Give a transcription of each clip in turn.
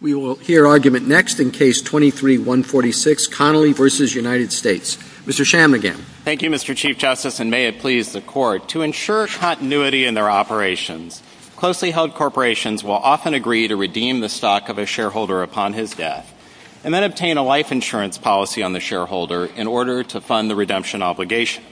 We will hear argument next in Case 23-146, Connelly v. United States. Mr. Shammigan. Thank you, Mr. Chief Justice, and may it please the Court, to ensure continuity in their operations, closely held corporations will often agree to redeem the stock of a shareholder upon his death, and then obtain a life insurance policy on the shareholder in order to fund the redemption obligation.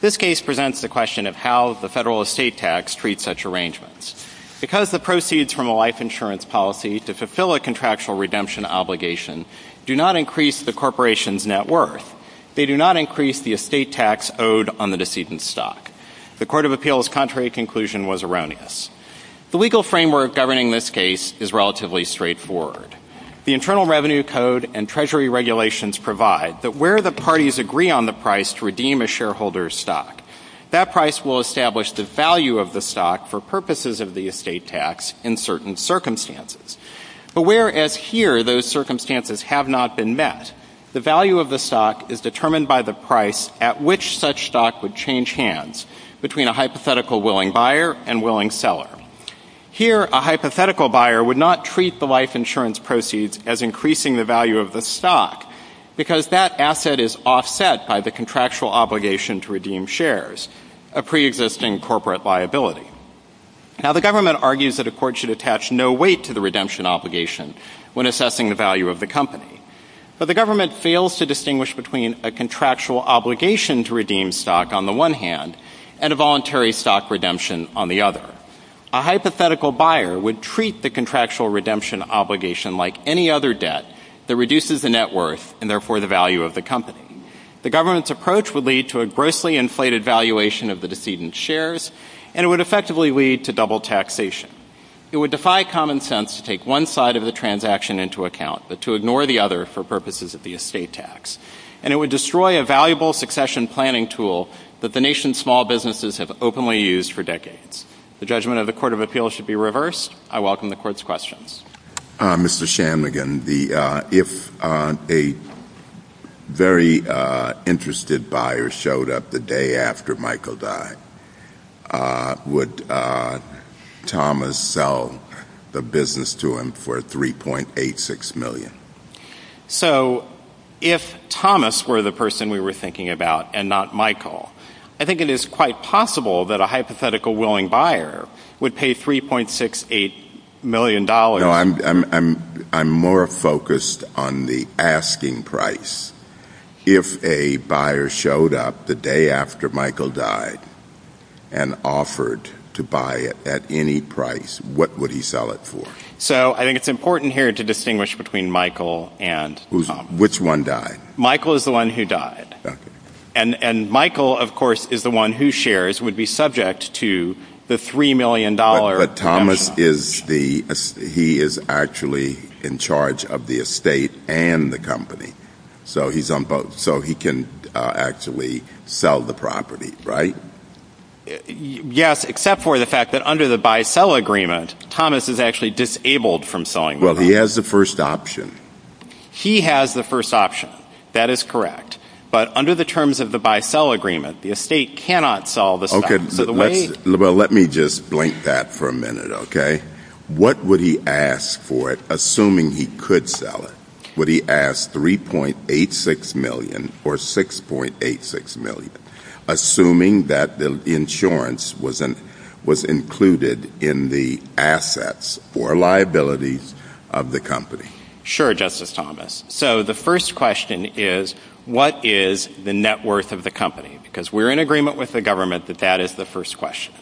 This case presents the question of how the federal estate tax treats such arrangements. Because the proceeds from a life insurance policy to fulfill a contractual redemption obligation do not increase the corporation's net worth, they do not increase the estate tax owed on the decedent's stock. The Court of Appeals' contrary conclusion was erroneous. The legal framework governing this case is relatively straightforward. The Internal Revenue Code and Treasury regulations provide that where the parties agree on the price to redeem a shareholder's stock, that price will establish the value of the stock for purposes of the estate tax in certain circumstances. But whereas here those circumstances have not been met, the value of the stock is determined by the price at which such stock would change hands between a hypothetical willing buyer and willing seller. Here, a hypothetical buyer would not treat the life insurance proceeds as increasing the value of the stock because that asset is offset by the contractual obligation to redeem shares, a preexisting corporate liability. Now, the government argues that a court should attach no weight to the redemption obligation when assessing the value of the company. But the government fails to distinguish between a contractual obligation to redeem stock on the one hand and a voluntary stock redemption on the other. A hypothetical buyer would treat the contractual redemption obligation like any other debt that reduces the net worth and therefore the value of the company. The government's approach would lead to a grossly inflated valuation of the decedent shares and it would effectively lead to double taxation. It would defy common sense to take one side of the transaction into account, but to ignore the other for purposes of the estate tax. And it would destroy a valuable succession planning tool that the nation's small businesses have openly used for decades. The judgment of the Court of Appeals should be reversed. I welcome the Court's questions. Mr. Shanmugam, if a very interested buyer showed up the day after Michael died, would Thomas sell the business to him for $3.86 million? So if Thomas were the person we were thinking about and not Michael, I think it is quite possible that a hypothetical willing buyer would pay $3.68 million No, I'm more focused on the asking price. If a buyer showed up the day after Michael died and offered to buy it at any price, what would he sell it for? So I think it's important here to distinguish between Michael and Thomas. Which one died? Michael is the one who died. And Michael, of course, is the one whose shares would be subject to the $3 million But Thomas, he is actually in charge of the estate and the company. So he can actually sell the property, right? Yes, except for the fact that under the buy-sell agreement, Thomas is actually disabled from selling the property. Well, he has the first option. He has the first option. That is correct. But under the terms of the buy-sell agreement, the estate cannot sell the stock. Let me just blink that for a minute, okay? What would he ask for it, assuming he could sell it? Would he ask $3.86 million or $6.86 million, assuming that the insurance was included in the assets or liabilities of the company? Sure, Justice Thomas. So the first question is, what is the net worth of the company? Because we're in agreement with the government that that is the first question.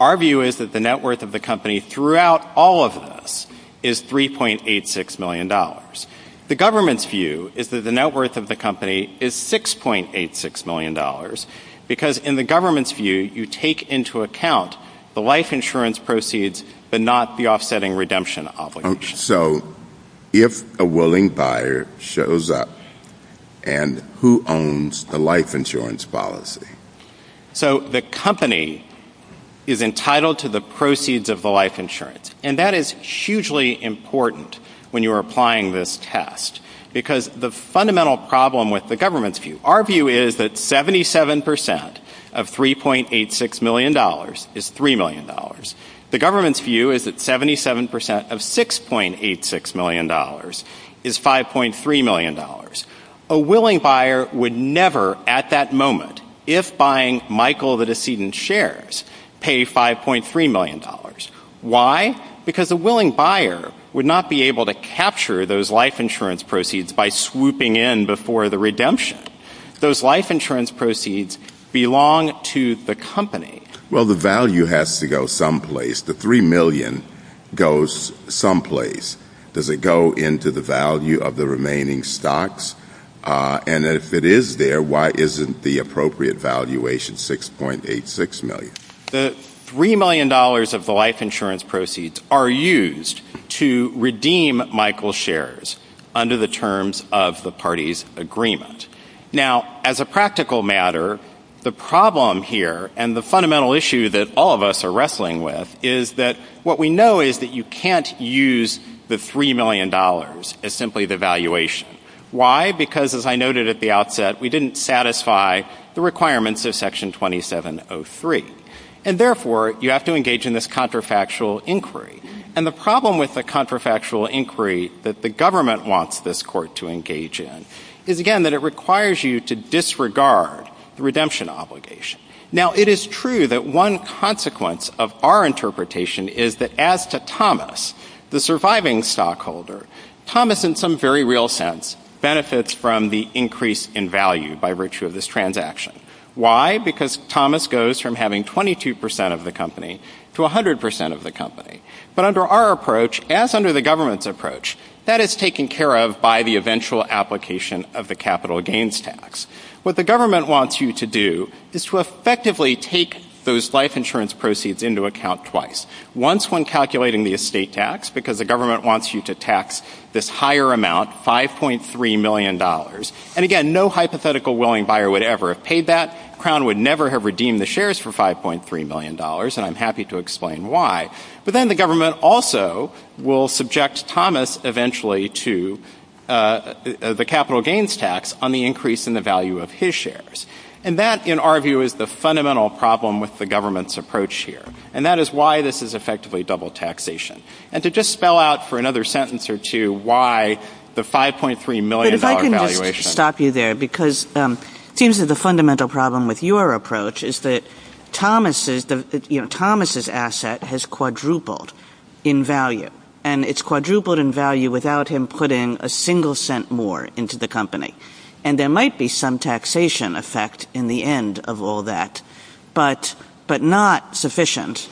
Our view is that the net worth of the company throughout all of this is $3.86 million. The government's view is that the net worth of the company is $6.86 million. Because in the government's view, you take into account the life insurance proceeds but not the offsetting redemption obligation. So if a willing buyer shows up, and who owns the life insurance policy? So the company is entitled to the proceeds of the life insurance. And that is hugely important when you are applying this test. Because the fundamental problem with the government's view, our view is that 77% of $3.86 million is $3 million. The government's view is that 77% of $6.86 million is $5.3 million. A willing buyer would never at that moment, if buying Michael the decedent's shares, pay $5.3 million. Why? Because a willing buyer would not be able to capture those life insurance proceeds by swooping in before the redemption. Those life insurance proceeds belong to the company. Well, the value has to go someplace. The $3 million goes someplace. Does it go into the value of the remaining stocks? And if it is there, why isn't the appropriate valuation $6.86 million? The $3 million of the life insurance proceeds are used to redeem Michael's shares under the terms of the party's agreement. Now, as a practical matter, the problem here, and the fundamental issue that all of us are wrestling with, is that what we know is that you can't use the $3 million as simply the valuation. Why? Because, as I noted at the outset, we didn't satisfy the requirements of Section 2703. And therefore, you have to engage in this contrafactual inquiry. And the problem with the contrafactual inquiry that the government wants this court to engage in is, again, that it requires you to disregard the redemption obligation. Now, it is true that one consequence of our interpretation is that, as to Thomas, the surviving stockholder, Thomas, in some very real sense, benefits from the increase in value by virtue of this transaction. Why? Because Thomas goes from having 22% of the company to 100% of the company. But under our approach, as under the government's approach, that is taken care of by the eventual application of the capital gains tax. What the government wants you to do is to effectively take those life insurance proceeds into account twice. Once when calculating the estate tax, because the government wants you to tax this higher amount, $5.3 million. And again, no hypothetical willing buyer would ever have paid that. Crown would never have redeemed the shares for $5.3 million, and I'm happy to explain why. But then the government also will subject Thomas eventually to the capital gains tax on the increase in the value of his shares. And that, in our view, is the fundamental problem with the government's approach here. And that is why this is effectively double taxation. And to just spell out for another sentence or two why the $5.3 million valuation. It seems that the fundamental problem with your approach is that Thomas's asset has quadrupled in value. And it's quadrupled in value without him putting a single cent more into the company. And there might be some taxation effect in the end of all that. But not sufficient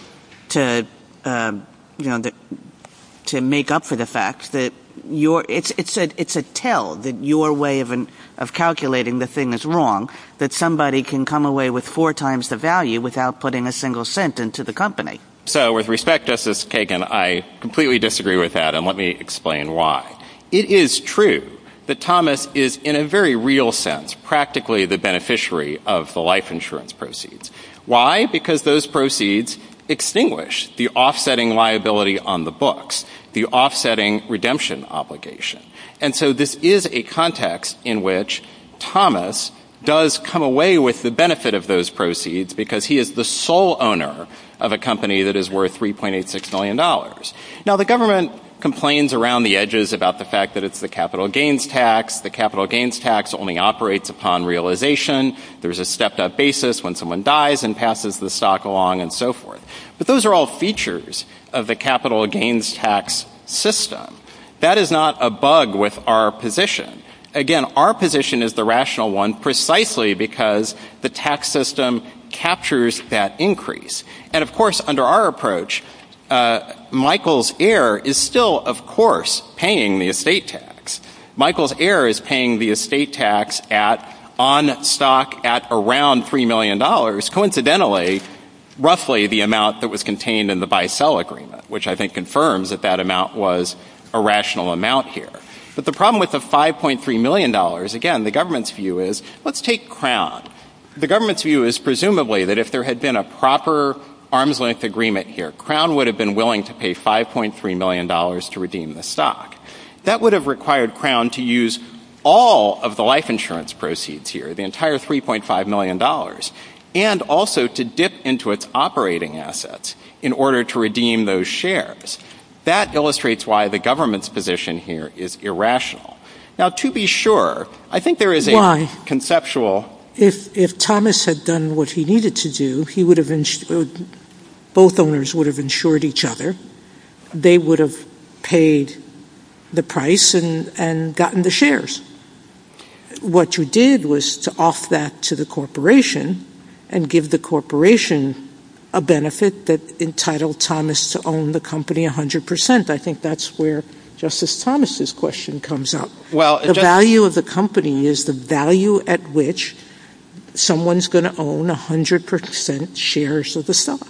to make up for the fact that it's a tell that your way of calculating the thing is wrong. That somebody can come away with four times the value without putting a single cent into the company. So with respect, Justice Kagan, I completely disagree with that, and let me explain why. It is true that Thomas is, in a very real sense, practically the beneficiary of the life insurance proceeds. Why? Because those proceeds extinguish the offsetting liability on the books. The offsetting redemption obligation. And so this is a context in which Thomas does come away with the benefit of those proceeds because he is the sole owner of a company that is worth $3.86 million. Now the government complains around the edges about the fact that it's the capital gains tax. The capital gains tax only operates upon realization. There's a stepped up basis when someone dies and passes the stock along and so forth. But those are all features of the capital gains tax system. That is not a bug with our position. Again, our position is the rational one precisely because the tax system captures that increase. And of course, under our approach, Michael's heir is still, of course, paying the estate tax. Michael's heir is paying the estate tax on stock at around $3 million. Coincidentally, roughly the amount that was contained in the Bicel Agreement, which I think confirms that that amount was a rational amount here. But the problem with the $5.3 million, again, the government's view is, let's take Crown. The government's view is presumably that if there had been a proper arm's length agreement here, Crown would have been willing to pay $5.3 million to redeem the stock. That would have required Crown to use all of the life insurance proceeds here, the entire $3.5 million, and also to dip into its operating assets in order to redeem those shares. That illustrates why the government's position here is irrational. Now, to be sure, I think there is a conceptual... Why? If Thomas had done what he needed to do, both owners would have insured each other. They would have paid the price and gotten the shares. What you did was to off that to the corporation and give the corporation a benefit that entitled Thomas to own the company 100%. I think that's where Justice Thomas' question comes up. The value of the company is the value at which someone's going to own 100% shares of the stock.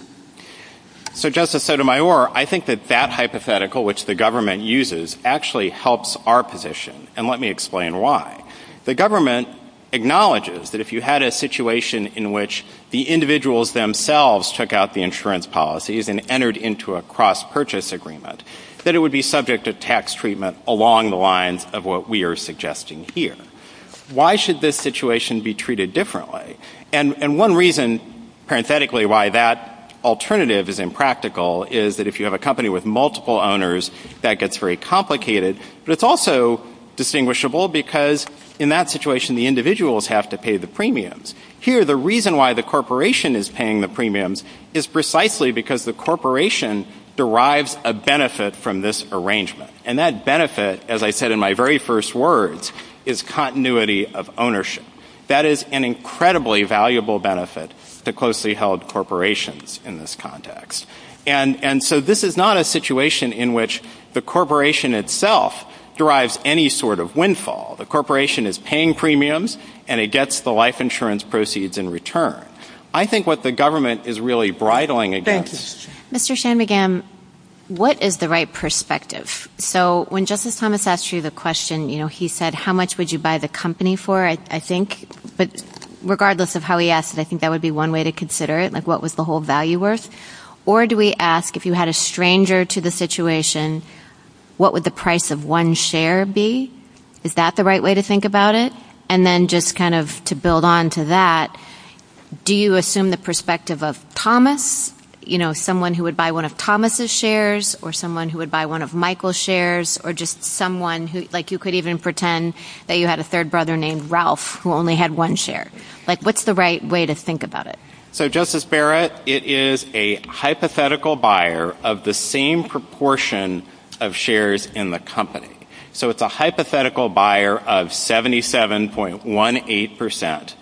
So, Justice Sotomayor, I think that that hypothetical, which the government uses, actually helps our position. And let me explain why. The government acknowledges that if you had a situation in which the individuals themselves took out the insurance policies and entered into a cross-purchase agreement, that it would be subject to tax treatment along the lines of what we are suggesting here. Why should this situation be treated differently? And one reason, parenthetically, why that alternative is impractical is that if you have a company with multiple owners, that gets very complicated. But it's also distinguishable because in that situation, the individuals have to pay the premiums. Here, the reason why the corporation is paying the premiums is precisely because the corporation derives a benefit from this arrangement. And that benefit, as I said in my very first words, is continuity of ownership. That is an incredibly valuable benefit to closely held corporations in this context. And so this is not a situation in which the corporation itself derives any sort of windfall. The corporation is paying premiums, and it gets the life insurance proceeds in return. I think what the government is really bridling against... Thank you. Mr. Shanmugam, what is the right perspective? So when Justice Thomas asked you the question, you know, he said, how much would you buy the company for, I think. But regardless of how he asked it, I think that would be one way to consider it. Like, what was the whole value worth? Or do we ask, if you had a stranger to the situation, what would the price of one share be? Is that the right way to think about it? And then just kind of to build on to that, do you assume the perspective of Thomas? You know, someone who would buy one of Thomas' shares, or someone who would buy one of Michael's shares, or just someone who, like, you could even pretend that you had a third brother named Ralph who only had one share. Like, what's the right way to think about it? So, Justice Barrett, it is a hypothetical buyer of the same proportion of shares in the company. So it's a hypothetical buyer of 77.18%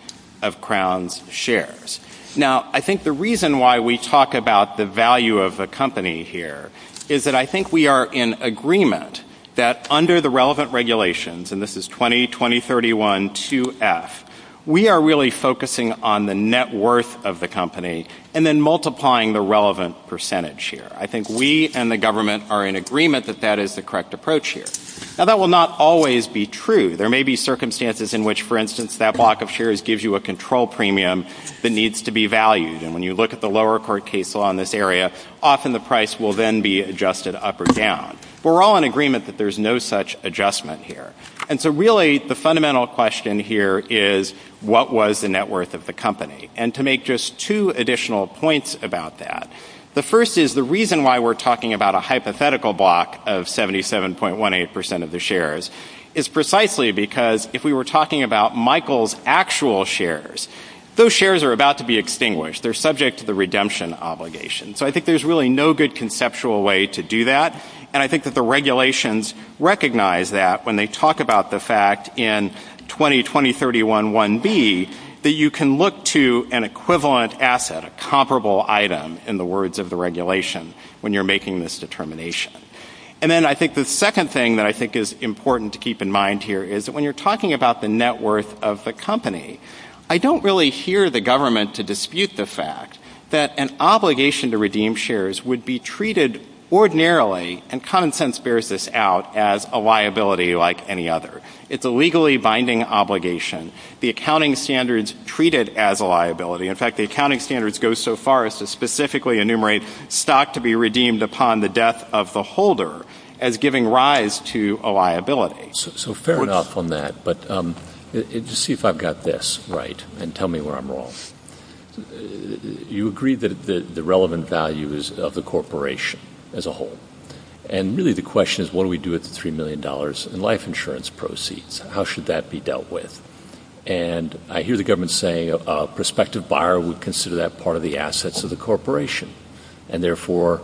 of Crown's shares. Now, I think the reason why we talk about the value of a company here is that I think we are in agreement that under the relevant regulations, and this is 20, 2031, 2F, we are really focusing on the net worth of the company and then multiplying the relevant percentage here. I think we and the government are in agreement that that is the correct approach here. Now, that will not always be true. There may be circumstances in which, for instance, that block of shares gives you a control premium that needs to be valued. And when you look at the lower court case law in this area, often the price will then be adjusted up or down. But we're all in agreement that there's no such adjustment here. And so really, the fundamental question here is, what was the net worth of the company? And to make just two additional points about that. The first is the reason why we're talking about a hypothetical block of 77.18% of the shares is precisely because if we were talking about Michael's actual shares, those shares are about to be extinguished. They're subject to the redemption obligation. So I think there's really no good conceptual way to do that. And I think that the regulations recognize that when they talk about the fact in 20, 2031, 1B, that you can look to an equivalent asset, a comparable item, in the words of the regulation, when you're making this determination. And then I think the second thing that I think is important to keep in mind here is that when you're talking about the net worth of the company, I don't really hear the government to dispute the fact that an obligation to redeem shares would be treated ordinarily, and common sense bears this out, as a liability like any other. It's a legally binding obligation. The accounting standards treat it as a liability. In fact, the accounting standards go so far as to specifically enumerate stock to be redeemed upon the death of the holder as giving rise to a liability. So fair enough on that, but just see if I've got this right and tell me where I'm wrong. You agree that the relevant value is of the corporation as a whole. And really the question is what do we do with the $3 million in life insurance proceeds? How should that be dealt with? And I hear the government saying a prospective buyer would consider that part of the assets of the corporation, and therefore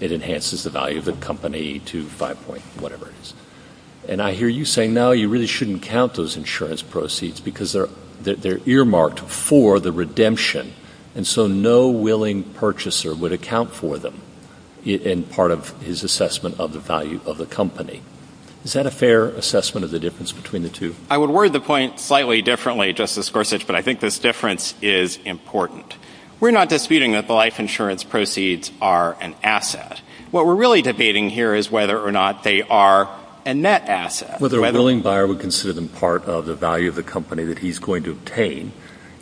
it enhances the value of the company to 5 point whatever it is. And I hear you saying, no, you really shouldn't count those insurance proceeds because they're earmarked for the redemption, and so no willing purchaser would account for them in part of his assessment of the value of the company. Is that a fair assessment of the difference between the two? I would word the point slightly differently, Justice Gorsuch, but I think this difference is important. We're not disputing that the life insurance proceeds are an asset. What we're really debating here is whether or not they are a net asset. Whether a willing buyer would consider them part of the value of the company that he's going to obtain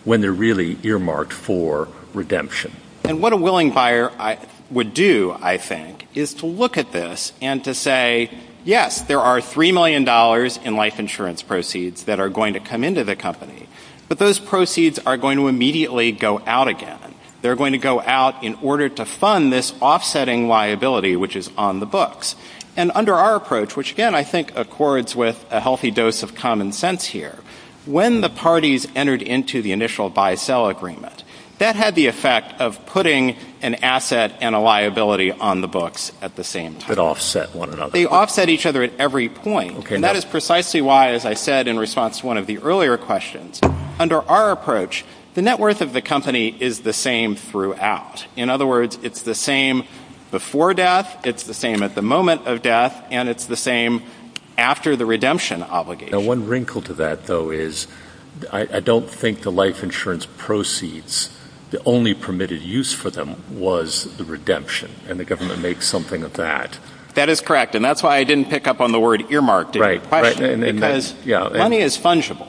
when they're really earmarked for redemption. And what a willing buyer would do, I think, is to look at this and to say, yes, there are $3 million in life insurance proceeds that are going to come into the company, but those proceeds are going to immediately go out again. They're going to go out in order to fund this offsetting liability, which is on the books. And under our approach, which, again, I think accords with a healthy dose of common sense here, when the parties entered into the initial buy-sell agreement, that had the effect of putting an asset and a liability on the books at the same time. But offset one another. They offset each other at every point. And that is precisely why, as I said in response to one of the earlier questions, under our approach, the net worth of the company is the same throughout. In other words, it's the same before death, it's the same at the moment of death, and it's the same after the redemption obligation. You know, one wrinkle to that, though, is I don't think the life insurance proceeds, the only permitted use for them was the redemption, and the government makes something of that. That is correct, and that's why I didn't pick up on the word earmarked in your question, because money is fungible.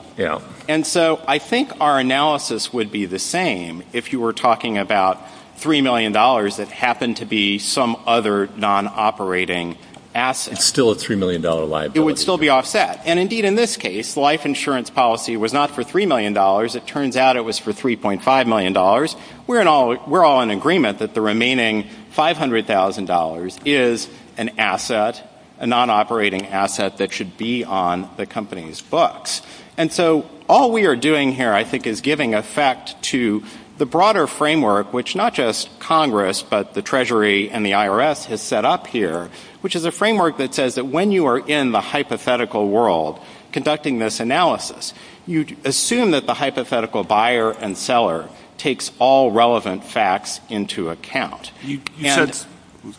And so I think our analysis would be the same if you were talking about $3 million that happened to be some other non-operating asset. It's still a $3 million liability. It would still be offset. And, indeed, in this case, life insurance policy was not for $3 million. It turns out it was for $3.5 million. We're all in agreement that the remaining $500,000 is an asset, a non-operating asset that should be on the company's books. And so all we are doing here, I think, is giving effect to the broader framework, which not just Congress but the Treasury and the IRS has set up here, which is a framework that says that when you are in the hypothetical world conducting this analysis, you assume that the hypothetical buyer and seller takes all relevant facts into account.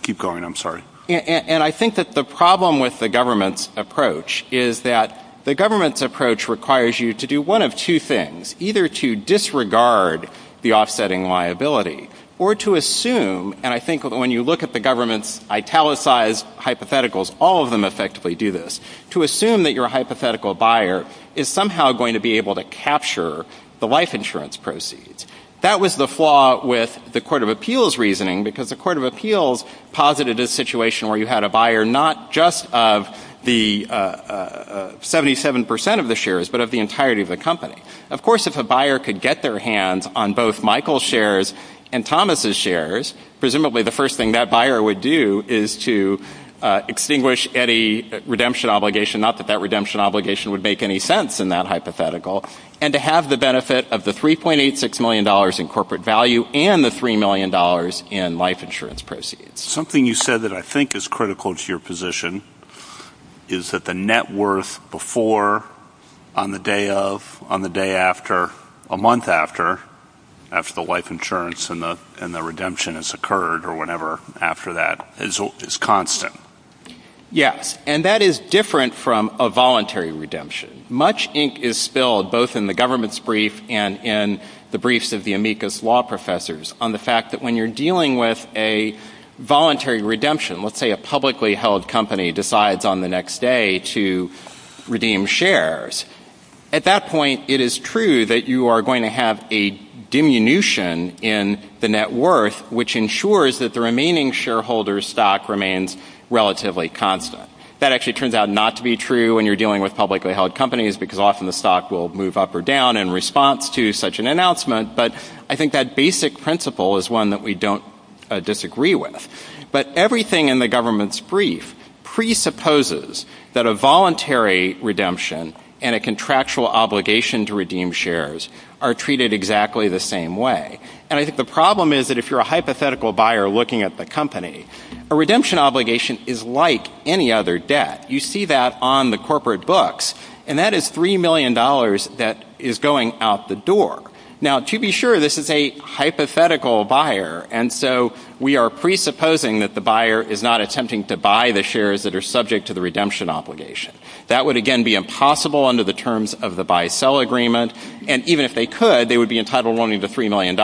Keep going. I'm sorry. And I think that the problem with the government's approach is that the government's approach requires you to do one of two things, either to disregard the offsetting liability or to assume, and I think when you look at the government's italicized hypotheticals, all of them effectively do this, to assume that your hypothetical buyer is somehow going to be able to capture the life insurance proceeds. That was the flaw with the Court of Appeals reasoning, because the Court of Appeals posited a situation where you had a buyer not just of the 77 percent of the shares but of the entirety of the company. Of course, if a buyer could get their hands on both Michael's shares and Thomas's shares, presumably the first thing that buyer would do is to extinguish any redemption obligation, not that that redemption obligation would make any sense in that hypothetical, and to have the benefit of the $3.86 million in corporate value and the $3 million in life insurance proceeds. Something you said that I think is critical to your position is that the net worth before, on the day of, on the day after, a month after, after the life insurance and the redemption has occurred or whenever after that is constant. Yes, and that is different from a voluntary redemption. Much ink is spilled, both in the government's brief and in the briefs of the amicus law professors, on the fact that when you're dealing with a voluntary redemption, let's say a publicly held company decides on the next day to redeem shares, at that point it is true that you are going to have a diminution in the net worth, which ensures that the remaining shareholder stock remains relatively constant. That actually turns out not to be true when you're dealing with publicly held companies, because often the stock will move up or down in response to such an announcement, but I think that basic principle is one that we don't disagree with. But everything in the government's brief presupposes that a voluntary redemption and a contractual obligation to redeem shares are treated exactly the same way. And I think the problem is that if you're a hypothetical buyer looking at the company, a redemption obligation is like any other debt. You see that on the corporate books, and that is $3 million that is going out the door. Now, to be sure, this is a hypothetical buyer, and so we are presupposing that the buyer is not attempting to buy the shares that are subject to the redemption obligation. That would, again, be impossible under the terms of the buy-sell agreement, and even if they could, they would be entitled only to $3 million,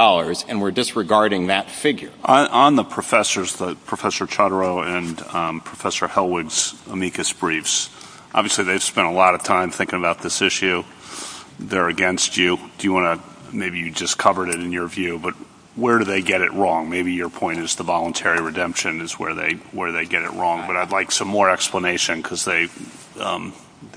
and we're disregarding that figure. On the professors, Professor Chodorow and Professor Hellwood's amicus briefs, obviously they've spent a lot of time thinking about this issue. They're against you. Maybe you just covered it in your view, but where do they get it wrong? Maybe your point is the voluntary redemption is where they get it wrong, but I'd like some more explanation because they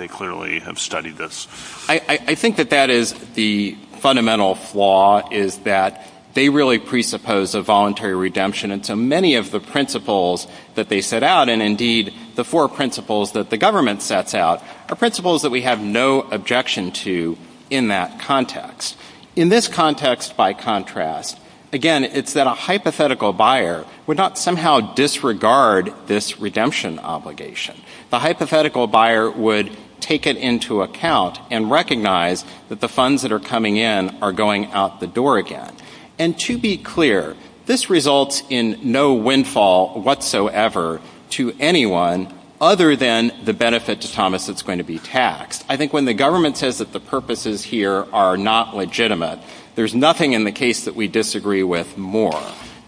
clearly have studied this. I think that that is the fundamental flaw, is that they really presuppose a voluntary redemption, and so many of the principles that they set out, and indeed the four principles that the government sets out, are principles that we have no objection to in that context. In this context, by contrast, again, it's that a hypothetical buyer would not somehow disregard this redemption obligation. The hypothetical buyer would take it into account and recognize that the funds that are coming in are going out the door again, and to be clear, this results in no windfall whatsoever to anyone other than the benefit to Thomas that's going to be taxed. I think when the government says that the purposes here are not legitimate, there's nothing in the case that we disagree with more.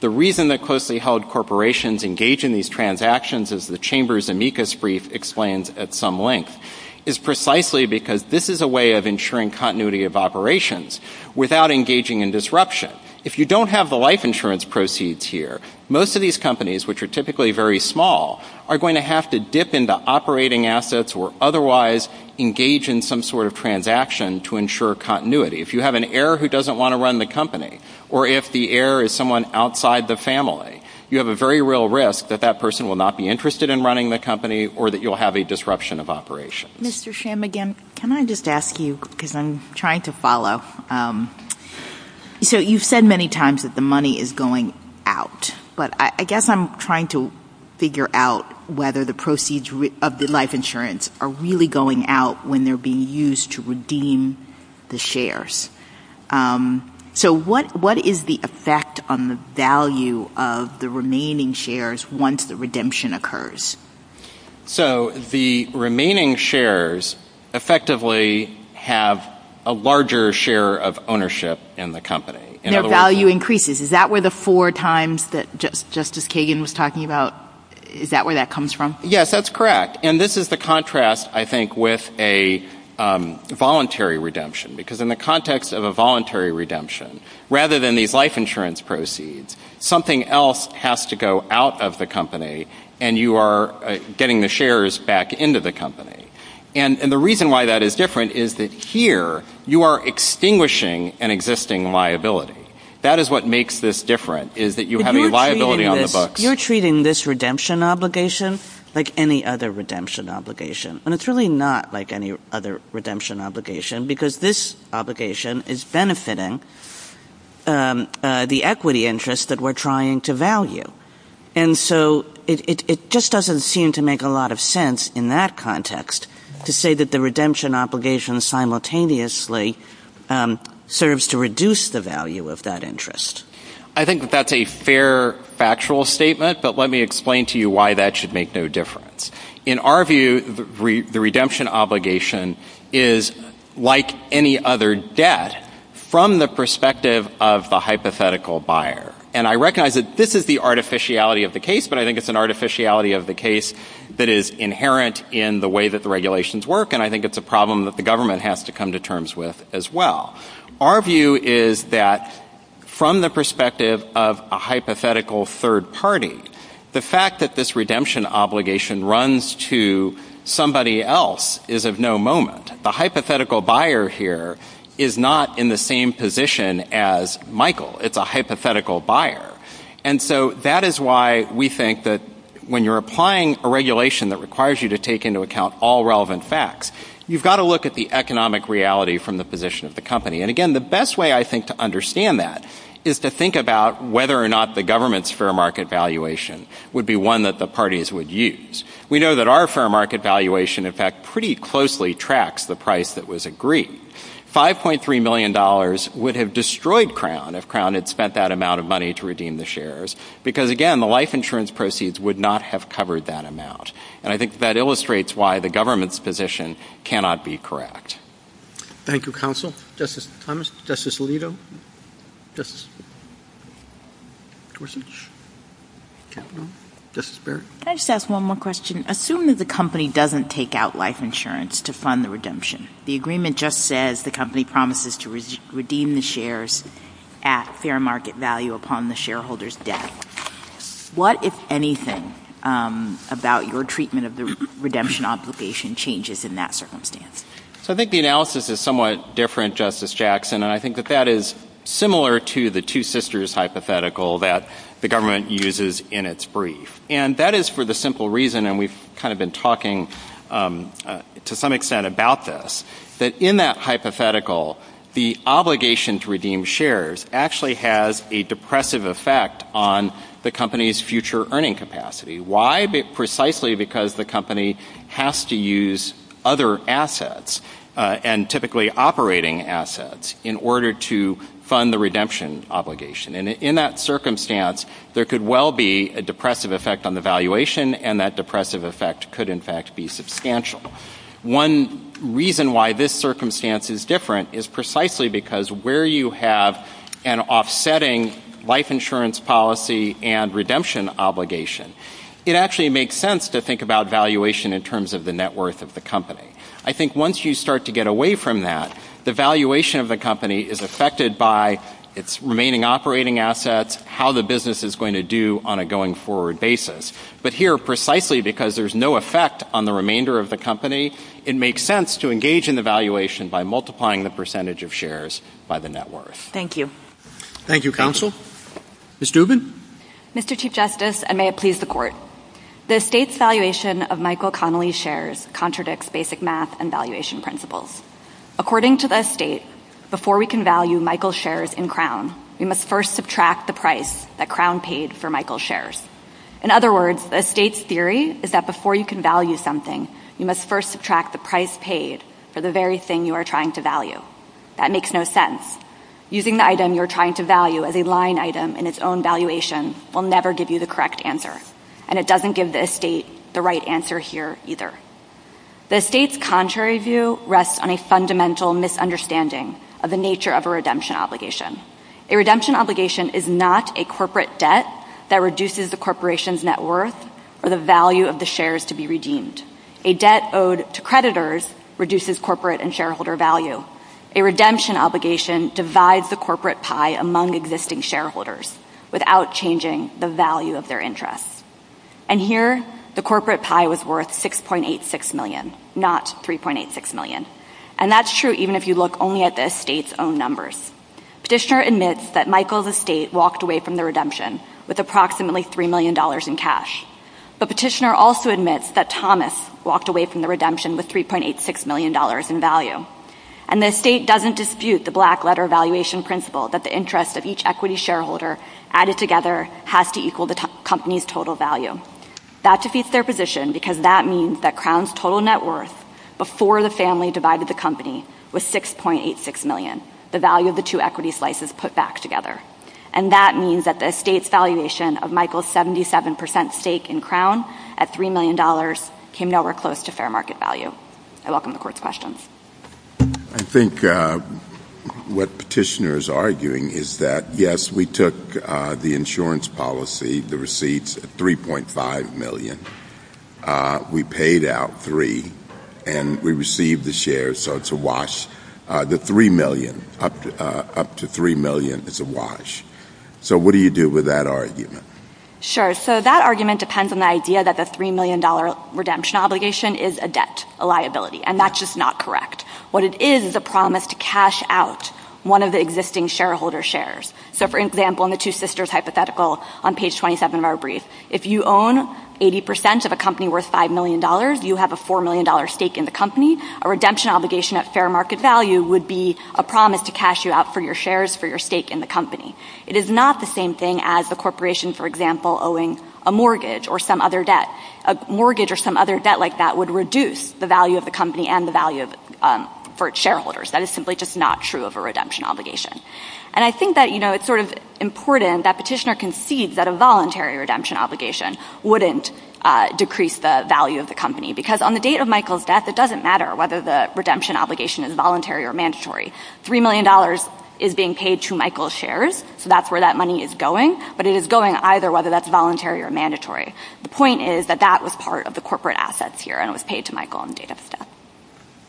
The reason that closely held corporations engage in these transactions, as the Chambers amicus brief explains at some length, is precisely because this is a way of ensuring continuity of operations without engaging in disruption. If you don't have the life insurance proceeds here, most of these companies, which are typically very small, are going to have to dip into operating assets or otherwise engage in some sort of transaction to ensure continuity. If you have an heir who doesn't want to run the company, or if the heir is someone outside the family, you have a very real risk that that person will not be interested in running the company or that you'll have a disruption of operations. Mr. Shamagin, can I just ask you, because I'm trying to follow. So you've said many times that the money is going out, but I guess I'm trying to figure out whether the proceeds of the life insurance are really going out when they're being used to redeem the shares. So what is the effect on the value of the remaining shares once the redemption occurs? So the remaining shares effectively have a larger share of ownership in the company. And their value increases. Is that where the four times that Justice Kagan was talking about, is that where that comes from? Yes, that's correct. And this is the contrast, I think, with a voluntary redemption. Because in the context of a voluntary redemption, rather than these life insurance proceeds, something else has to go out of the company and you are getting the shares back into the company. And the reason why that is different is that here you are extinguishing an existing liability. That is what makes this different, is that you have a liability on the books. You're treating this redemption obligation like any other redemption obligation. And it's really not like any other redemption obligation, because this obligation is benefiting the equity interest that we're trying to value. And so it just doesn't seem to make a lot of sense in that context to say that the redemption obligation simultaneously serves to reduce the value of that interest. I think that that's a fair factual statement, but let me explain to you why that should make no difference. In our view, the redemption obligation is, like any other debt, from the perspective of the hypothetical buyer. And I recognize that this is the artificiality of the case, but I think it's an artificiality of the case that is inherent in the way that the regulations work, and I think it's a problem that the government has to come to terms with as well. Our view is that from the perspective of a hypothetical third party, the fact that this redemption obligation runs to somebody else is of no moment. The hypothetical buyer here is not in the same position as Michael. It's a hypothetical buyer. And so that is why we think that when you're applying a regulation that requires you to take into account all relevant facts, you've got to look at the economic reality from the position of the company. And again, the best way, I think, to understand that is to think about whether or not the government's fair market valuation would be one that the parties would use. We know that our fair market valuation, in fact, pretty closely tracks the price that was agreed. $5.3 million would have destroyed Crown if Crown had spent that amount of money to redeem the shares because, again, the life insurance proceeds would not have covered that amount. And I think that illustrates why the government's position cannot be correct. Thank you, counsel. Justice Thomas, Justice Alito, Justice Gorsuch, Capito, Justice Barrett. Can I just ask one more question? Assume that the company doesn't take out life insurance to fund the redemption. The agreement just says the company promises to redeem the shares at fair market value upon the shareholder's debt. What, if anything, about your treatment of the redemption obligation changes in that circumstance? So I think the analysis is somewhat different, Justice Jackson, and I think that that is similar to the two sisters hypothetical that the government uses in its brief. And that is for the simple reason, and we've kind of been talking to some extent about this, that in that hypothetical the obligation to redeem shares actually has a depressive effect on the company's future earning capacity. Why? Precisely because the company has to use other assets and typically operating assets in order to fund the redemption obligation. And in that circumstance there could well be a depressive effect on the valuation, and that depressive effect could in fact be substantial. One reason why this circumstance is different is precisely because where you have an offsetting life insurance policy and redemption obligation, it actually makes sense to think about valuation in terms of the net worth of the company. I think once you start to get away from that, the valuation of the company is affected by its remaining operating assets, how the business is going to do on a going forward basis. But here, precisely because there's no effect on the remainder of the company, it makes sense to engage in the valuation by multiplying the percentage of shares by the net worth. Thank you. Thank you, Counsel. Ms. Dubin? Mr. Chief Justice, and may it please the Court, the estate's valuation of Michael Connolly's shares contradicts basic math and valuation principles. According to the estate, before we can value Michael's shares in Crown, we must first subtract the price that Crown paid for Michael's shares. In other words, the estate's theory is that before you can value something, you must first subtract the price paid for the very thing you are trying to value. That makes no sense. Using the item you are trying to value as a line item in its own valuation will never give you the correct answer, and it doesn't give the estate the right answer here either. The estate's contrary view rests on a fundamental misunderstanding of the nature of a redemption obligation. A redemption obligation is not a corporate debt that reduces the corporation's net worth or the value of the shares to be redeemed. A debt owed to creditors reduces corporate and shareholder value. A redemption obligation divides the corporate pie among existing shareholders without changing the value of their interests. And here, the corporate pie was worth $6.86 million, not $3.86 million. And that's true even if you look only at the estate's own numbers. Petitioner admits that Michael's estate walked away from the redemption with approximately $3 million in cash. But Petitioner also admits that Thomas walked away from the redemption with $3.86 million in value. And the estate doesn't dispute the black-letter valuation principle that the interest of each equity shareholder added together has to equal the company's total value. That defeats their position because that means that Crown's total net worth before the family divided the company was $6.86 million, the value of the two equity slices put back together. And that means that the estate's valuation of Michael's 77 percent stake in Crown at $3 million came nowhere close to fair market value. I welcome the Court's questions. I think what Petitioner is arguing is that, yes, we took the insurance policy, the receipts, at $3.5 million. We paid out three, and we received the shares, so it's a wash. The $3 million, up to $3 million is a wash. So what do you do with that argument? Sure. So that argument depends on the idea that the $3 million redemption obligation is a debt, a liability. And that's just not correct. What it is is a promise to cash out one of the existing shareholder shares. So, for example, in the Two Sisters hypothetical on page 27 of our brief, if you own 80 percent of a company worth $5 million, you have a $4 million stake in the company. A redemption obligation at fair market value would be a promise to cash you out for your shares for your stake in the company. It is not the same thing as the corporation, for example, owing a mortgage or some other debt. A mortgage or some other debt like that would reduce the value of the company and the value for its shareholders. That is simply just not true of a redemption obligation. And I think that, you know, it's sort of important that Petitioner concedes that a voluntary redemption obligation wouldn't decrease the value of the company, because on the date of Michael's death, it doesn't matter whether the redemption obligation is voluntary or mandatory. $3 million is being paid to Michael's shares, so that's where that money is going. But it is going either whether that's voluntary or mandatory. The point is that that was part of the corporate assets here, and it was paid to Michael on the date of his death.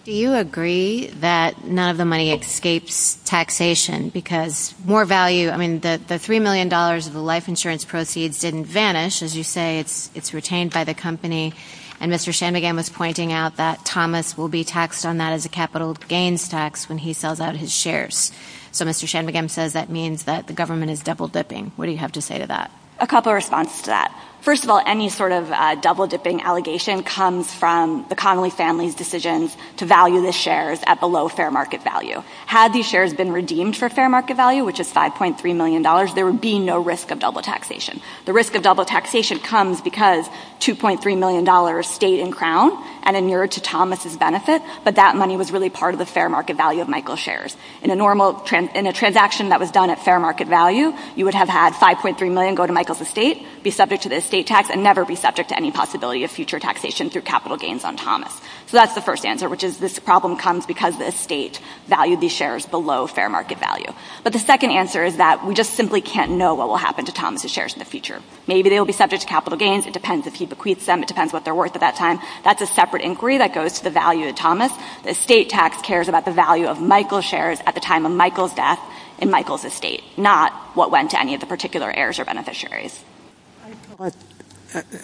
Do you agree that none of the money escapes taxation? Because more value – I mean, the $3 million of the life insurance proceeds didn't vanish. As you say, it's retained by the company. And Mr. Shanmugam was pointing out that Thomas will be taxed on that as a capital gains tax when he sells out his shares. So Mr. Shanmugam says that means that the government is double-dipping. What do you have to say to that? A couple of responses to that. First of all, any sort of double-dipping allegation comes from the Connolly family's decisions to value the shares at the low fair market value. Had these shares been redeemed for fair market value, which is $5.3 million, there would be no risk of double taxation. The risk of double taxation comes because $2.3 million stayed in Crown and inured to Thomas' benefit, but that money was really part of the fair market value of Michael's shares. In a normal – in a transaction that was done at fair market value, you would have had $5.3 million go to Michael's estate, be subject to the estate tax, and never be subject to any possibility of future taxation through capital gains on Thomas. So that's the first answer, which is this problem comes because the estate valued these shares below fair market value. But the second answer is that we just simply can't know what will happen to Thomas' shares in the future. Maybe they will be subject to capital gains. It depends if he bequeaths them. It depends what they're worth at that time. That's a separate inquiry that goes to the value of Thomas. The estate tax cares about the value of Michael's shares at the time of Michael's death in Michael's estate, not what went to any of the particular heirs or beneficiaries.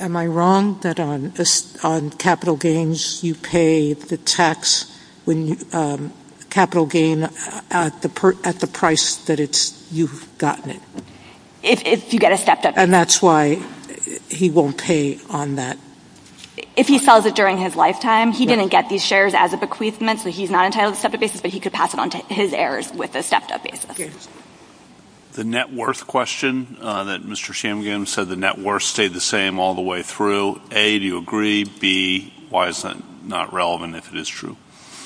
Am I wrong that on capital gains you pay the tax – capital gain at the price that you've gotten it? If you get a stepped-up basis. And that's why he won't pay on that? If he sells it during his lifetime, he didn't get these shares as a bequeathment, so he's not entitled to a stepped-up basis, but he could pass it on to his heirs with a stepped-up basis. The net worth question that Mr. Shamgim said the net worth stayed the same all the way through. A, do you agree? B, why is that not relevant if it is true?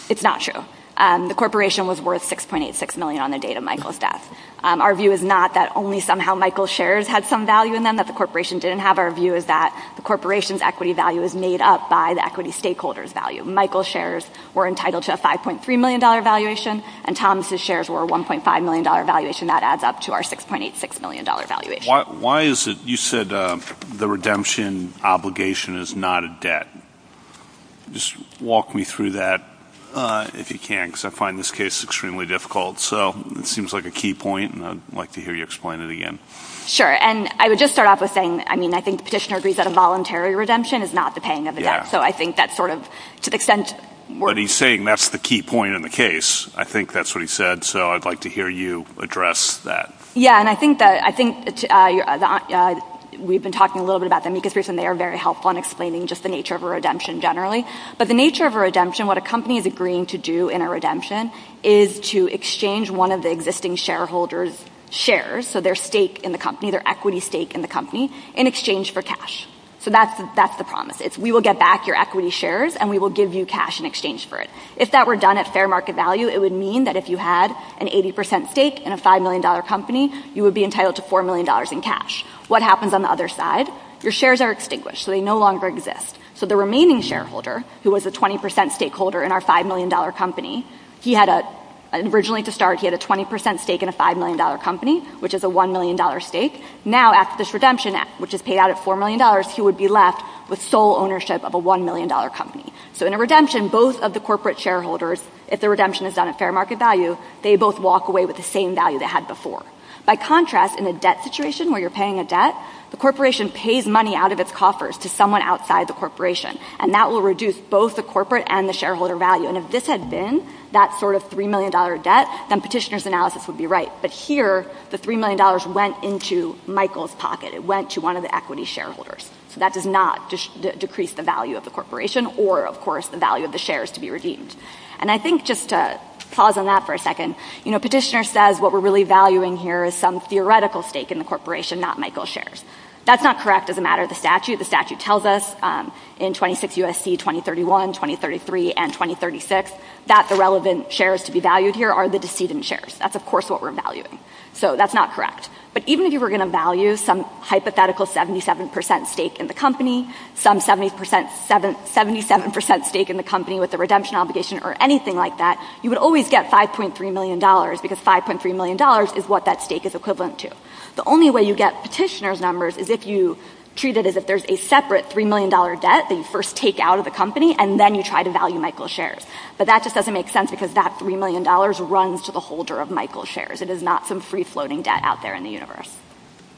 It's not true. The corporation was worth $6.86 million on the date of Michael's death. Our view is not that only somehow Michael's shares had some value in them that the corporation didn't have. Our view is that the corporation's equity value is made up by the equity stakeholder's value. Michael's shares were entitled to a $5.3 million valuation, and Thomas's shares were a $1.5 million valuation. That adds up to our $6.86 million valuation. Why is it – you said the redemption obligation is not a debt. Just walk me through that if you can, because I find this case extremely difficult. So, it seems like a key point, and I'd like to hear you explain it again. Sure, and I would just start off with saying, I mean, I think the petitioner agrees that a voluntary redemption is not the paying of a debt. So, I think that's sort of – to the extent – But he's saying that's the key point in the case. I think that's what he said, so I'd like to hear you address that. Yeah, and I think that – I think we've been talking a little bit about them because they are very helpful in explaining just the nature of a redemption generally. But the nature of a redemption, what a company is agreeing to do in a redemption is to exchange one of the existing shareholder's shares, so their stake in the company, their equity stake in the company, in exchange for cash. So, that's the promise. It's, we will get back your equity shares, and we will give you cash in exchange for it. If that were done at fair market value, it would mean that if you had an 80% stake in a $5 million company, you would be entitled to $4 million in cash. What happens on the other side? Your shares are extinguished, so they no longer exist. So, the remaining shareholder, who was a 20% stakeholder in our $5 million company, he had a – originally, to start, he had a 20% stake in a $5 million company, which is a $1 million stake. Now, after this redemption, which is paid out at $4 million, he would be left with sole ownership of a $1 million company. So, in a redemption, both of the corporate shareholders, if the redemption is done at fair market value, they both walk away with the same value they had before. By contrast, in a debt situation, where you're paying a debt, the corporation pays money out of its coffers to someone outside the corporation, and that will reduce both the corporate and the shareholder value. And if this had been that sort of $3 million debt, then petitioner's analysis would be right. But here, the $3 million went into Michael's pocket. It went to one of the equity shareholders. So, that does not decrease the value of the corporation or, of course, the value of the shares to be redeemed. And I think, just to pause on that for a second, you know, petitioner says, what we're really valuing here is some theoretical stake in the corporation, not Michael's shares. That's not correct as a matter of the statute. The statute tells us, in 26 U.S.C., 2031, 2033, and 2036, that the relevant shares to be valued here are the decedent shares. That's, of course, what we're valuing. So, that's not correct. But even if you were going to value some hypothetical 77% stake in the company, some 77% stake in the company with a redemption obligation or anything like that, you would always get $5.3 million, because $5.3 million is what that stake is equivalent to. The only way you get petitioner's numbers is if you treat it as if there's a separate $3 million debt that you first take out of the company, and then you try to value Michael's shares. But that just doesn't make sense, because that $3 million runs to the holder of Michael's shares. It is not some free-floating debt out there in the universe.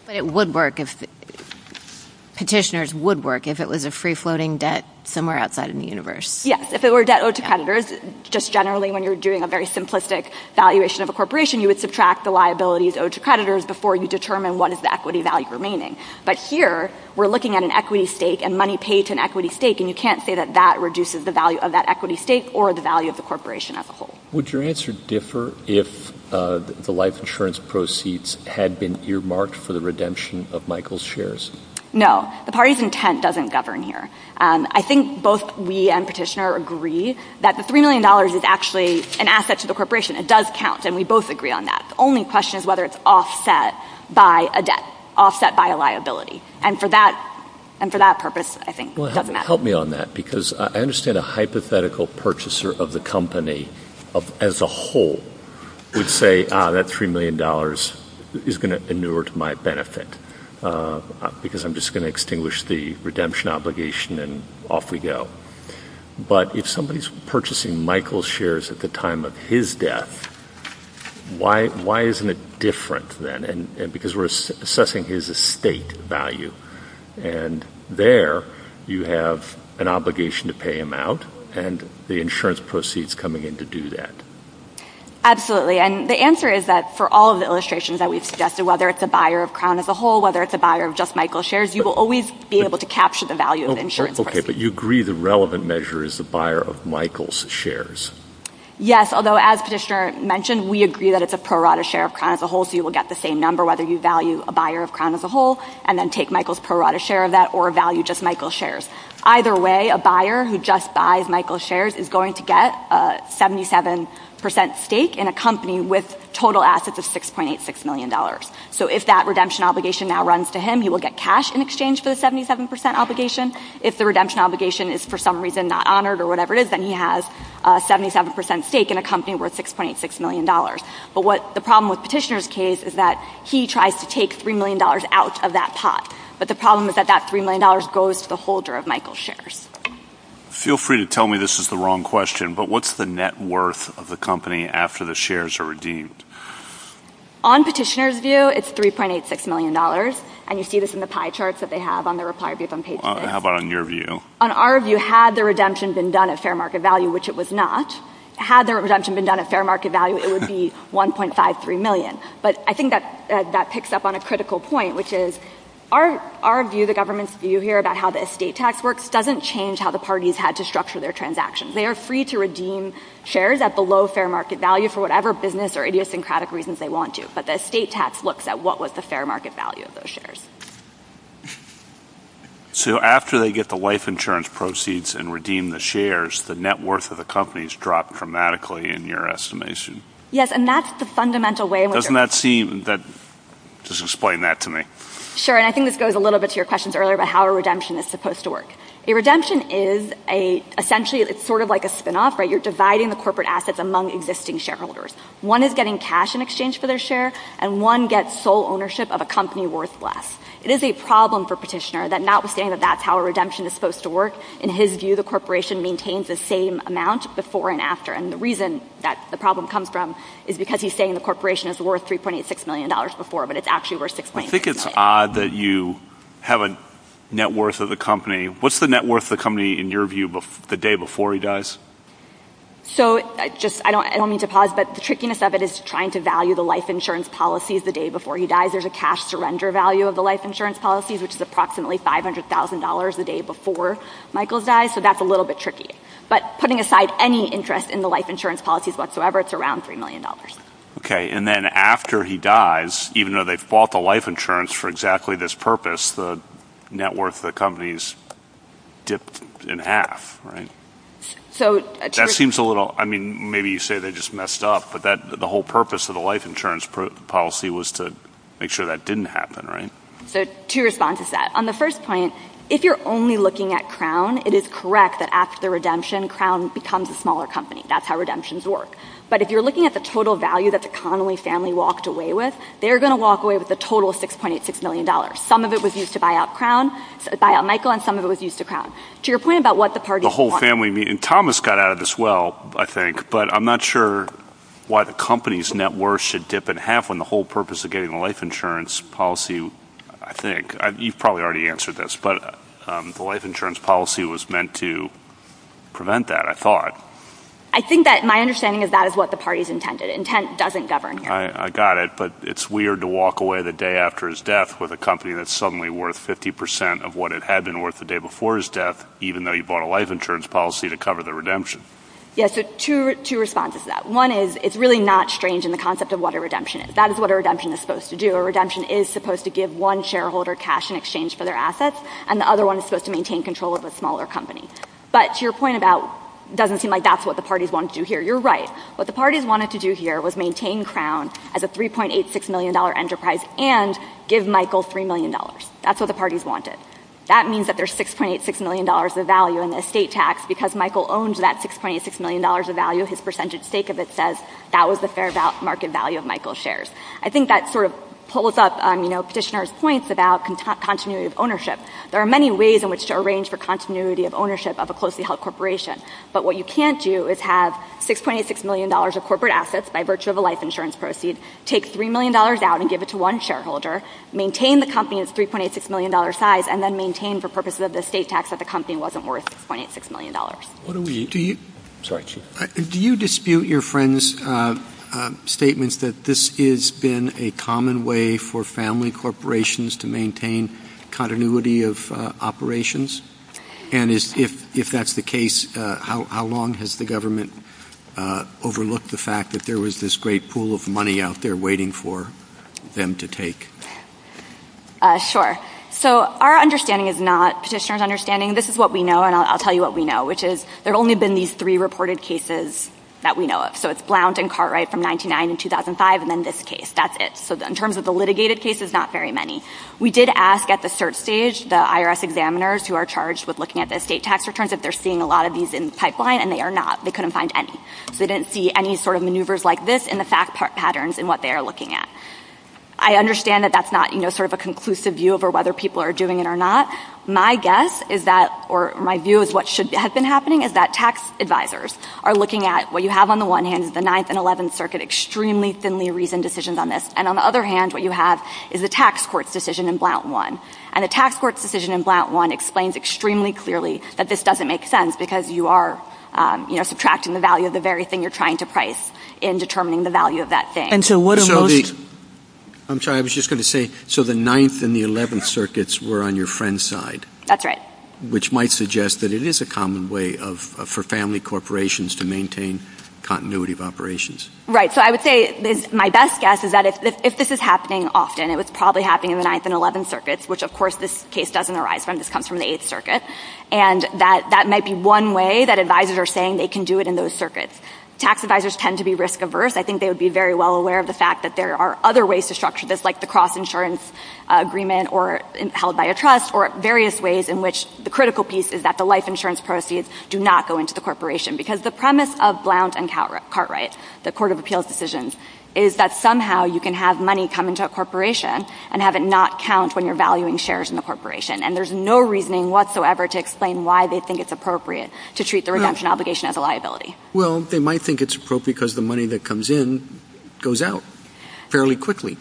But it would work if — petitioners would work if it was a free-floating debt somewhere outside in the universe. Yes. If it were debt owed to creditors, just generally, when you're doing a very simplistic valuation of a corporation, you would subtract the liabilities owed to creditors before you determine what is the equity value remaining. But here, we're looking at an equity stake, and money paid to an equity stake, and you can't say that that reduces the value of that equity stake or the value of the corporation as a whole. Would your answer differ if the life insurance proceeds had been earmarked for the redemption of Michael's shares? No. The party's intent doesn't govern here. I think both we and petitioner agree that the $3 million is actually an asset to the corporation. It does count, and we both agree on that. The only question is whether it's offset by a debt, offset by a liability. And for that purpose, I think, it doesn't matter. Help me on that, because I understand a hypothetical purchaser of the company as a whole would say, ah, that $3 million is going to inure to my benefit because I'm just going to extinguish the redemption obligation, and off we go. But if somebody's purchasing Michael's shares at the time of his death, why isn't it different then? Because we're assessing his estate value, and there you have an obligation to pay him out, and the insurance proceeds coming in to do that. Absolutely. And the answer is that for all of the illustrations that we've suggested, whether it's a buyer of Crown as a whole, whether it's a buyer of just Michael's shares, you will always be able to capture the value of the insurance proceeds. Okay, but you agree the relevant measure is the buyer of Michael's shares? Yes, although as Petitioner mentioned, we agree that it's a pro rata share of Crown as a whole, so you will get the same number whether you value a buyer of Crown as a whole and then take Michael's pro rata share of that or value just Michael's shares. Either way, a buyer who just buys Michael's shares is going to get a 77% stake in a company with total assets of $6.86 million. So if that redemption obligation now runs to him, he will get cash in exchange for the 77% obligation. If the redemption obligation is for some reason not honored or whatever it is, then he has a 77% stake in a company worth $6.86 million. But what the problem with Petitioner's case is that he tries to take $3 million out of that pot, but the problem is that that $3 million goes to the holder of Michael's shares. Feel free to tell me this is the wrong question, but what's the net worth of the company after the shares are redeemed? On Petitioner's view, it's $3.86 million, and you see this in the pie charts that they have on the Reply.Beeb on page 6. How about on your view? On our view, had the redemption been done at fair market value, which it was not, had the redemption been done at fair market value, it would be $1.53 million. But I think that picks up on a critical point, which is our view, the government's view here about how the estate tax works, doesn't change how the parties had to structure their transactions. They are free to redeem shares at the low fair market value for whatever business or idiosyncratic reasons they want to, but the estate tax looks at what was the fair market value of those shares. So after they get the life insurance proceeds and redeem the shares, the net worth of the company has dropped dramatically in your estimation. Yes, and that's the fundamental way. Doesn't that seem, just explain that to me. Sure, and I think this goes a little bit to your questions earlier about how a redemption is supposed to work. A redemption is essentially, it's sort of like a spinoff, right? You're dividing the corporate assets among existing shareholders. One is getting cash in exchange for their share, and one gets sole ownership of a company worth less. It is a problem for Petitioner that notwithstanding that that's how a redemption is supposed to work, in his view the corporation maintains the same amount before and after. And the reason that the problem comes from is because he's saying the corporation is worth $3.86 million before, but it's actually worth $6.8 million. I think it's odd that you have a net worth of the company. What's the net worth of the company in your view the day before he dies? So, I don't mean to pause, but the trickiness of it is trying to value the life insurance policies the day before he dies. There's a cash surrender value of the life insurance policies, which is approximately $500,000 the day before Michael dies, so that's a little bit tricky. But putting aside any interest in the life insurance policies whatsoever, it's around $3 million. Okay, and then after he dies, even though they've bought the life insurance for exactly this purpose, the net worth of the company's dipped in half, right? So, a trick... That seems a little, I mean, maybe you say they just messed up, but the whole purpose of the life insurance policy was to make sure that didn't happen, right? So, two responses to that. On the first point, if you're only looking at Crown, it is correct that after the redemption, Crown becomes a smaller company. That's how redemptions work. But if you're looking at the total value that the Connolly family walked away with, they're going to walk away with a total of $6.86 million. Some of it was used to buy out Crown, buy out Michael, and some of it was used to Crown. To your point about what the parties want... Thomas got out of this well, I think, but I'm not sure why the company's net worth should dip in half when the whole purpose of getting the life insurance policy, I think, you've probably already answered this, but the life insurance policy was meant to prevent that, I thought. I think that my understanding is that is what the parties intended. Intent doesn't govern here. I got it. But it's weird to walk away the day after his death with a company that's suddenly worth 50% of what it had been worth the day before his death, even though you bought a life insurance policy to cover the redemption. Yes, so two responses to that. One is it's really not strange in the concept of what a redemption is. That is what a redemption is supposed to do. A redemption is supposed to give one shareholder cash in exchange for their assets, and the other one is supposed to maintain control of a smaller company. But to your point about it doesn't seem like that's what the parties wanted to do here, you're right. What the parties wanted to do here was maintain Crown as a $3.86 million enterprise and give Michael $3 million. That's what the parties wanted. That means that there's $6.86 million of value in the estate tax because Michael owns that $6.86 million of value. His percentage stake of it says that was the fair market value of Michael's shares. I think that sort of pulls up Petitioner's points about continuity of ownership. There are many ways in which to arrange for continuity of ownership of a closely held corporation, but what you can't do is have $6.86 million of corporate assets by virtue of a life insurance proceed, take $3 million out and give it to one shareholder, maintain the company in its $3.86 million size, and then maintain for purposes of the estate tax that the company wasn't worth $6.86 million. Do you dispute your friend's statements that this has been a common way for family corporations to maintain continuity of operations? And if that's the case, how long has the government overlooked the fact that there was this great pool of money out there waiting for them to take? Sure. So our understanding is not Petitioner's understanding. This is what we know, and I'll tell you what we know, which is there have only been these three reported cases that we know of. So it's Blount and Cartwright from 1999 to 2005, and then this case. That's it. So in terms of the litigated cases, not very many. We did ask at the search stage the IRS examiners who are charged with looking at the estate tax returns if they're seeing a lot of these in the pipeline, and they are not. They couldn't find any. So they didn't see any sort of maneuvers like this in the fact patterns in what they are looking at. I understand that that's not sort of a conclusive view over whether people are doing it or not. My guess is that, or my view is what should have been happening, is that tax advisors are looking at what you have on the one hand is the Ninth and Eleventh Circuit extremely thinly reasoned decisions on this, and on the other hand what you have is the tax court's decision in Blount 1. And the tax court's decision in Blount 1 explains extremely clearly that this doesn't make sense because you are, you know, subtracting the value of the very thing you're trying to price in determining the value of that thing. And so what are most... I'm sorry. I was just going to say, so the Ninth and the Eleventh Circuits were on your friend's side. That's right. Which might suggest that it is a common way for family corporations to maintain continuity of operations. Right. So I would say my best guess is that if this is happening often, it was probably happening in the Ninth and Eleventh Circuits, which of course this case doesn't arise from. This comes from the Eighth Circuit. And that might be one way that advisors are saying they can do it in those circuits. Tax advisors tend to be risk-averse. I think they would be very well aware of the fact that there are other ways to structure this, like the cross-insurance agreement, or held by a trust, or various ways in which the critical piece is that the life insurance proceeds do not go into the corporation. Because the premise of Blount and Cartwright, the Court of Appeals decisions, is that somehow you can have money come into a corporation and have it not count when you're valuing shares in the corporation. And there's no reasoning whatsoever to explain why they think it's appropriate to treat the redemption obligation as a liability. Well, they might think it's appropriate because the money that comes in goes out fairly quickly.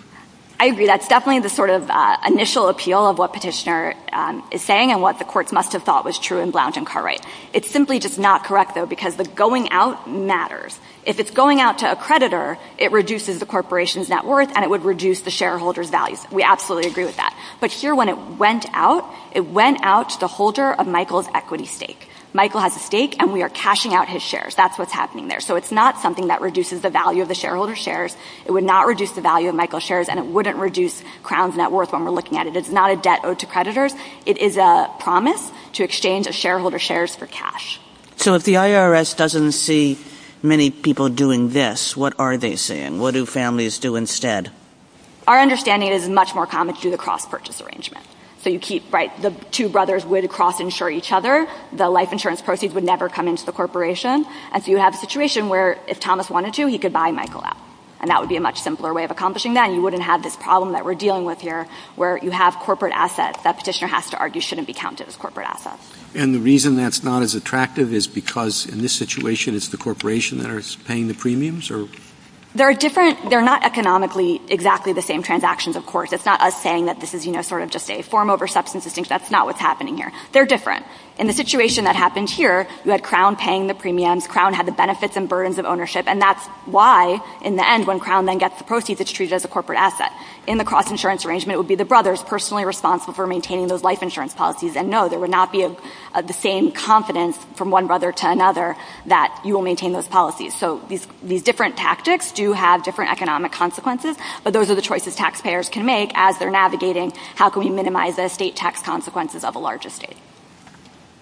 I agree. That's definitely the sort of initial appeal of what Petitioner is saying and what the courts must have thought was true in Blount and Cartwright. It's simply just not correct, though, because the going out matters. If it's going out to a creditor, it reduces the corporation's net worth and it would reduce the shareholder's values. We absolutely agree with that. But here, when it went out, it went out to the holder of Michael's equity stake. Michael has a stake, and we are cashing out his shares. That's what's happening there. So it's not something that reduces the value of the shareholder's shares. It would not reduce the value of Michael's shares, and it wouldn't reduce Crown's net worth when we're looking at it. It's not a debt owed to creditors. It is a promise to exchange a shareholder's shares for cash. So if the IRS doesn't see many people doing this, what are they saying? What do families do instead? Our understanding is it's much more common to do the cross-purchase arrangement. So you keep, right, the two brothers would cross-insure each other. The life insurance proceeds would never come into the corporation. And so you have a situation where, if Thomas wanted to, he could buy Michael out, and that would be a much simpler way of accomplishing that, and you wouldn't have this problem that we're dealing with here where you have corporate assets that Petitioner has to argue shouldn't be counted as corporate assets. And the reason that's not as attractive is because, in this situation, it's the corporation that is paying the premiums? They're different. They're not economically exactly the same transactions, of course. It's not us saying that this is, you know, sort of just a form over substance distinction. That's not what's happening here. They're different. In the situation that happened here, you had Crown paying the premiums. Crown had the benefits and burdens of ownership, and that's why, in the end, when Crown then gets the proceeds, it's treated as a corporate asset. In the cross-insurance arrangement, it would be the brothers personally responsible for maintaining those life insurance policies. And, no, there would not be the same confidence from one brother to another that you will maintain those policies. So these different tactics do have different economic consequences, but those are the choices taxpayers can make as they're navigating how can we minimize the estate tax consequences of a large estate.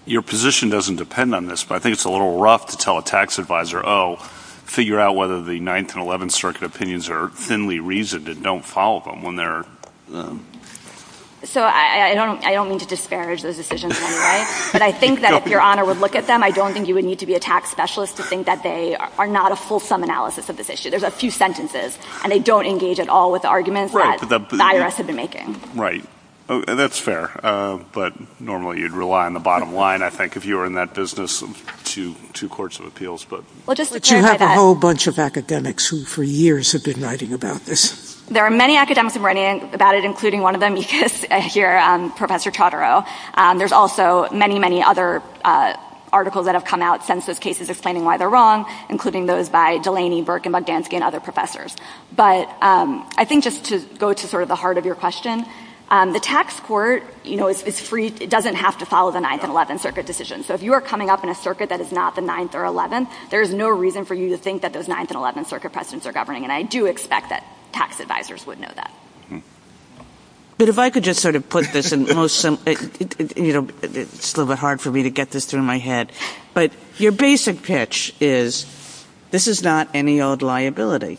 Your position doesn't depend on this, but I think it's a little rough to tell a tax advisor, oh, figure out whether the 9th and 11th Circuit opinions are thinly reasoned and don't follow them when they're... So I don't mean to disparage those decisions in any way, but I think that if Your Honor would look at them, I don't think you would need to be a tax specialist to think that they are not a full-sum analysis of this issue. There's a few sentences, and they don't engage at all with the arguments that the IRS had been making. Right. That's fair. But, normally, you'd rely on the bottom line, I think, if you were in that business of two courts of appeals. But you have a whole bunch of academics who, for years, have been writing about this. There are many academics who have been writing about it, including one of them, you can see here, Professor Chaudhary. There's also many, many other articles that have come out since those cases explaining why they're wrong, including those by Delaney, Burke, and Bogdanski, and other professors. But I think just to go to sort of the heart of your question, the tax court, you know, is free. It doesn't have to follow the 9th and 11th Circuit decisions. So if you are coming up in a circuit that is not the 9th or 11th, there is no reason for you to think that those 9th and 11th Circuit precedents are governing, and I do expect that tax advisors would know that. But if I could just sort of put this in most, you know, it's a little bit hard for me to get this through my head, but your basic pitch is this is not any old liability.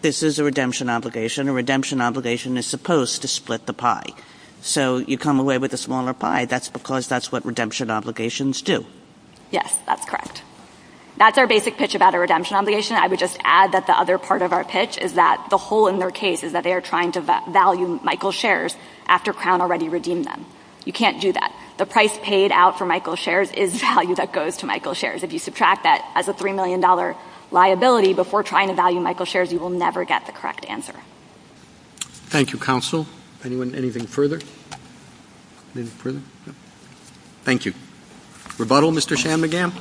This is a redemption obligation. A redemption obligation is supposed to split the pie. So you come away with a smaller pie. That's because that's what redemption obligations do. Yes, that's correct. That's our basic pitch about a redemption obligation. I would just add that the other part of our pitch is that the hole in their case is that they are trying to value Michael's shares after Crown already redeemed them. You can't do that. The price paid out for Michael's shares is value that goes to Michael's shares. If you subtract that as a $3 million liability before trying to value Michael's shares, you will never get the correct answer. Thank you, counsel. Anyone, anything further? Anything further? No. Thank you. Rebuttal, Mr. Shanmugam.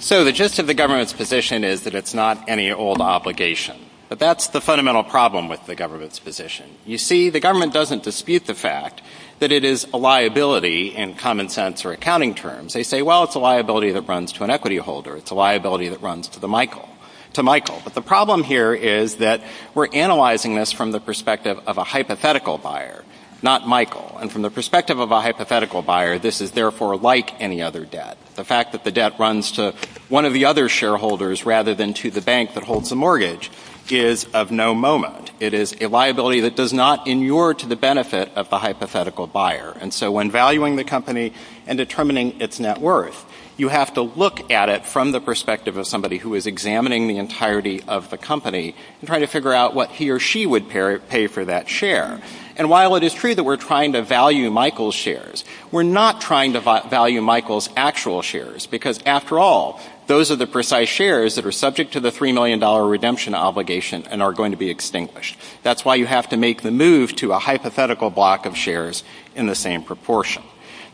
So the gist of the government's position is that it's not any old obligation. But that's the fundamental problem with the government's position. You see, the government doesn't dispute the fact that it is a liability in common sense or accounting terms. They say, well, it's a liability that runs to an equity holder. It's a liability that runs to Michael. But the problem here is that we're analyzing this from the perspective of a hypothetical buyer, not Michael. And from the perspective of a hypothetical buyer, this is therefore like any other debt. The fact that the debt runs to one of the other shareholders rather than to the bank that holds the mortgage is of no moment. It is a liability that does not inure to the benefit of the hypothetical buyer. And so when valuing the company and determining its net worth, you have to look at it from the perspective of somebody who is examining the entirety of the company and trying to figure out what he or she would pay for that share. And while it is true that we're trying to value Michael's shares, we're not trying to value Michael's actual shares because, after all, those are the precise shares that are subject to the $3 million redemption obligation and are going to be extinguished. That's why you have to make the move to a hypothetical block of shares in the same proportion.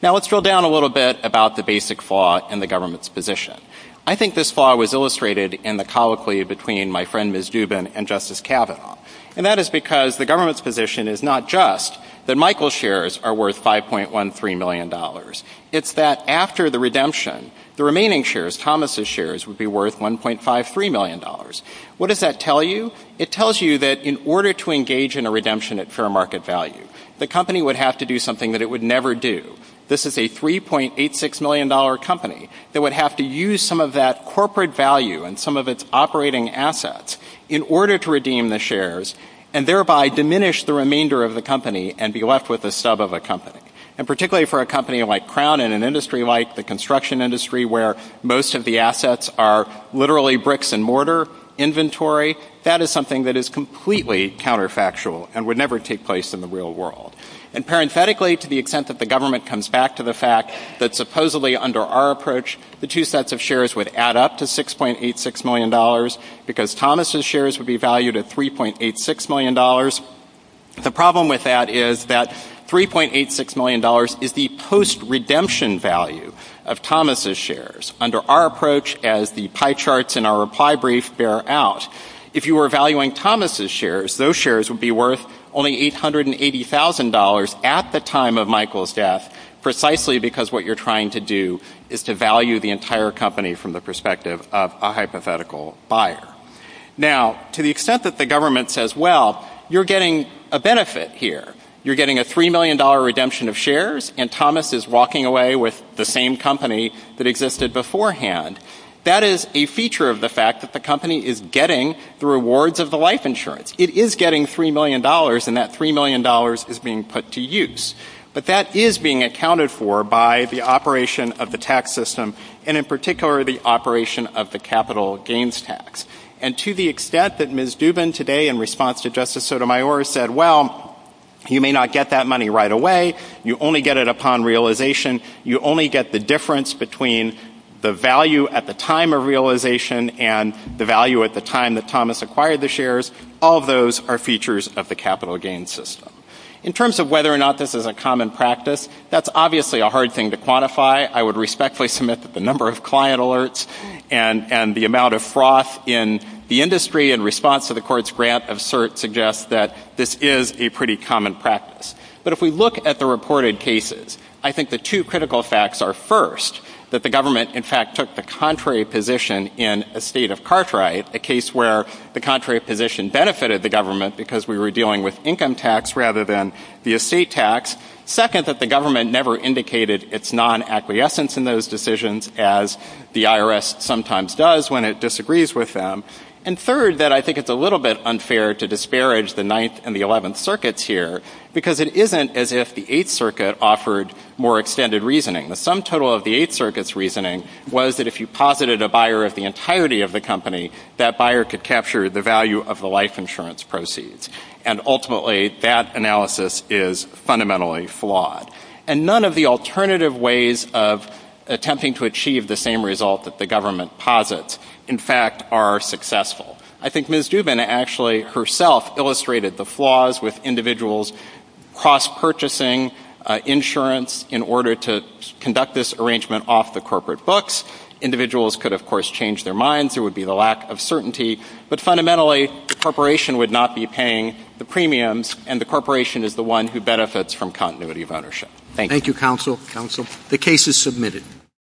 Now, let's drill down a little bit about the basic flaw in the government's position. I think this flaw was illustrated in the colloquy between my friend Ms. Dubin and Justice Kavanaugh. And that is because the government's position is not just that Michael's shares are worth $5.13 million. It's that after the redemption, the remaining shares, Thomas's shares, would be worth $1.53 million. What does that tell you? It tells you that in order to engage in a redemption at fair market value, the company would have to do something that it would never do. This is a $3.86 million company that would have to use some of that corporate value and some of its operating assets in order to redeem the shares and thereby diminish the remainder of the company and be left with a sub of a company. And particularly for a company like Crown and an industry like the construction industry where most of the assets are literally bricks and mortar inventory, that is something that is completely counterfactual and would never take place in the real world. And parenthetically, to the extent that the government comes back to the fact that supposedly under our approach, the two sets of shares would add up to $6.86 million because Thomas's shares would be valued at $3.86 million, the problem with that is that $3.86 million is the post-redemption value of Thomas's shares under our approach as the pie charts in our reply brief bear out. If you were valuing Thomas's shares, those shares would be worth only $880,000 at the time of Michael's death, precisely because what you're trying to do is to value the entire company from the perspective of a hypothetical buyer. Now, to the extent that the government says, well, you're getting a benefit here. You're getting a $3 million redemption of shares and Thomas is walking away with the same company that existed beforehand. That is a feature of the fact that the company is getting the rewards of the life insurance. It is getting $3 million and that $3 million is being put to use. But that is being accounted for by the operation of the tax system and in particular the operation of the capital gains tax. And to the extent that Ms. Dubin today in response to Justice Sotomayor said, well, you may not get that money right away. You only get it upon realization. You only get the difference between the value at the time of realization and the value at the time that Thomas acquired the shares. All of those are features of the capital gains system. In terms of whether or not this is a common practice, that's obviously a hard thing to quantify. I would respectfully submit that the number of client alerts and the amount of froth in the industry in response to the court's grant of cert suggests that this is a pretty common practice. But if we look at the reported cases, I think the two critical facts are, first, that the government, in fact, took the contrary position in a state of Cartwright, a case where the contrary position benefited the government because we were dealing with income tax rather than the estate tax. Second, that the government never indicated its non-acquiescence in those decisions as the IRS sometimes does when it disagrees with them. And third, that I think it's a little bit unfair to disparage the Ninth and the Eleventh Circuits here because it isn't as if the Eighth Circuit offered more extended reasoning. The sum total of the Eighth Circuit's reasoning was that if you posited a buyer of the entirety of the company, that buyer could capture the value of the life insurance proceeds. And ultimately, that analysis is fundamentally flawed. And none of the alternative ways of attempting to achieve the same result that the government posits, in fact, are successful. I think Ms. Dubin actually herself illustrated the flaws with individuals cross-purchasing insurance in order to conduct this arrangement off the corporate books. Individuals could, of course, change their minds. There would be the lack of certainty. But fundamentally, the corporation would not be paying the premiums, and the corporation is the one who benefits from continuity of ownership. Thank you. Thank you, Counsel. Counsel. The case is submitted.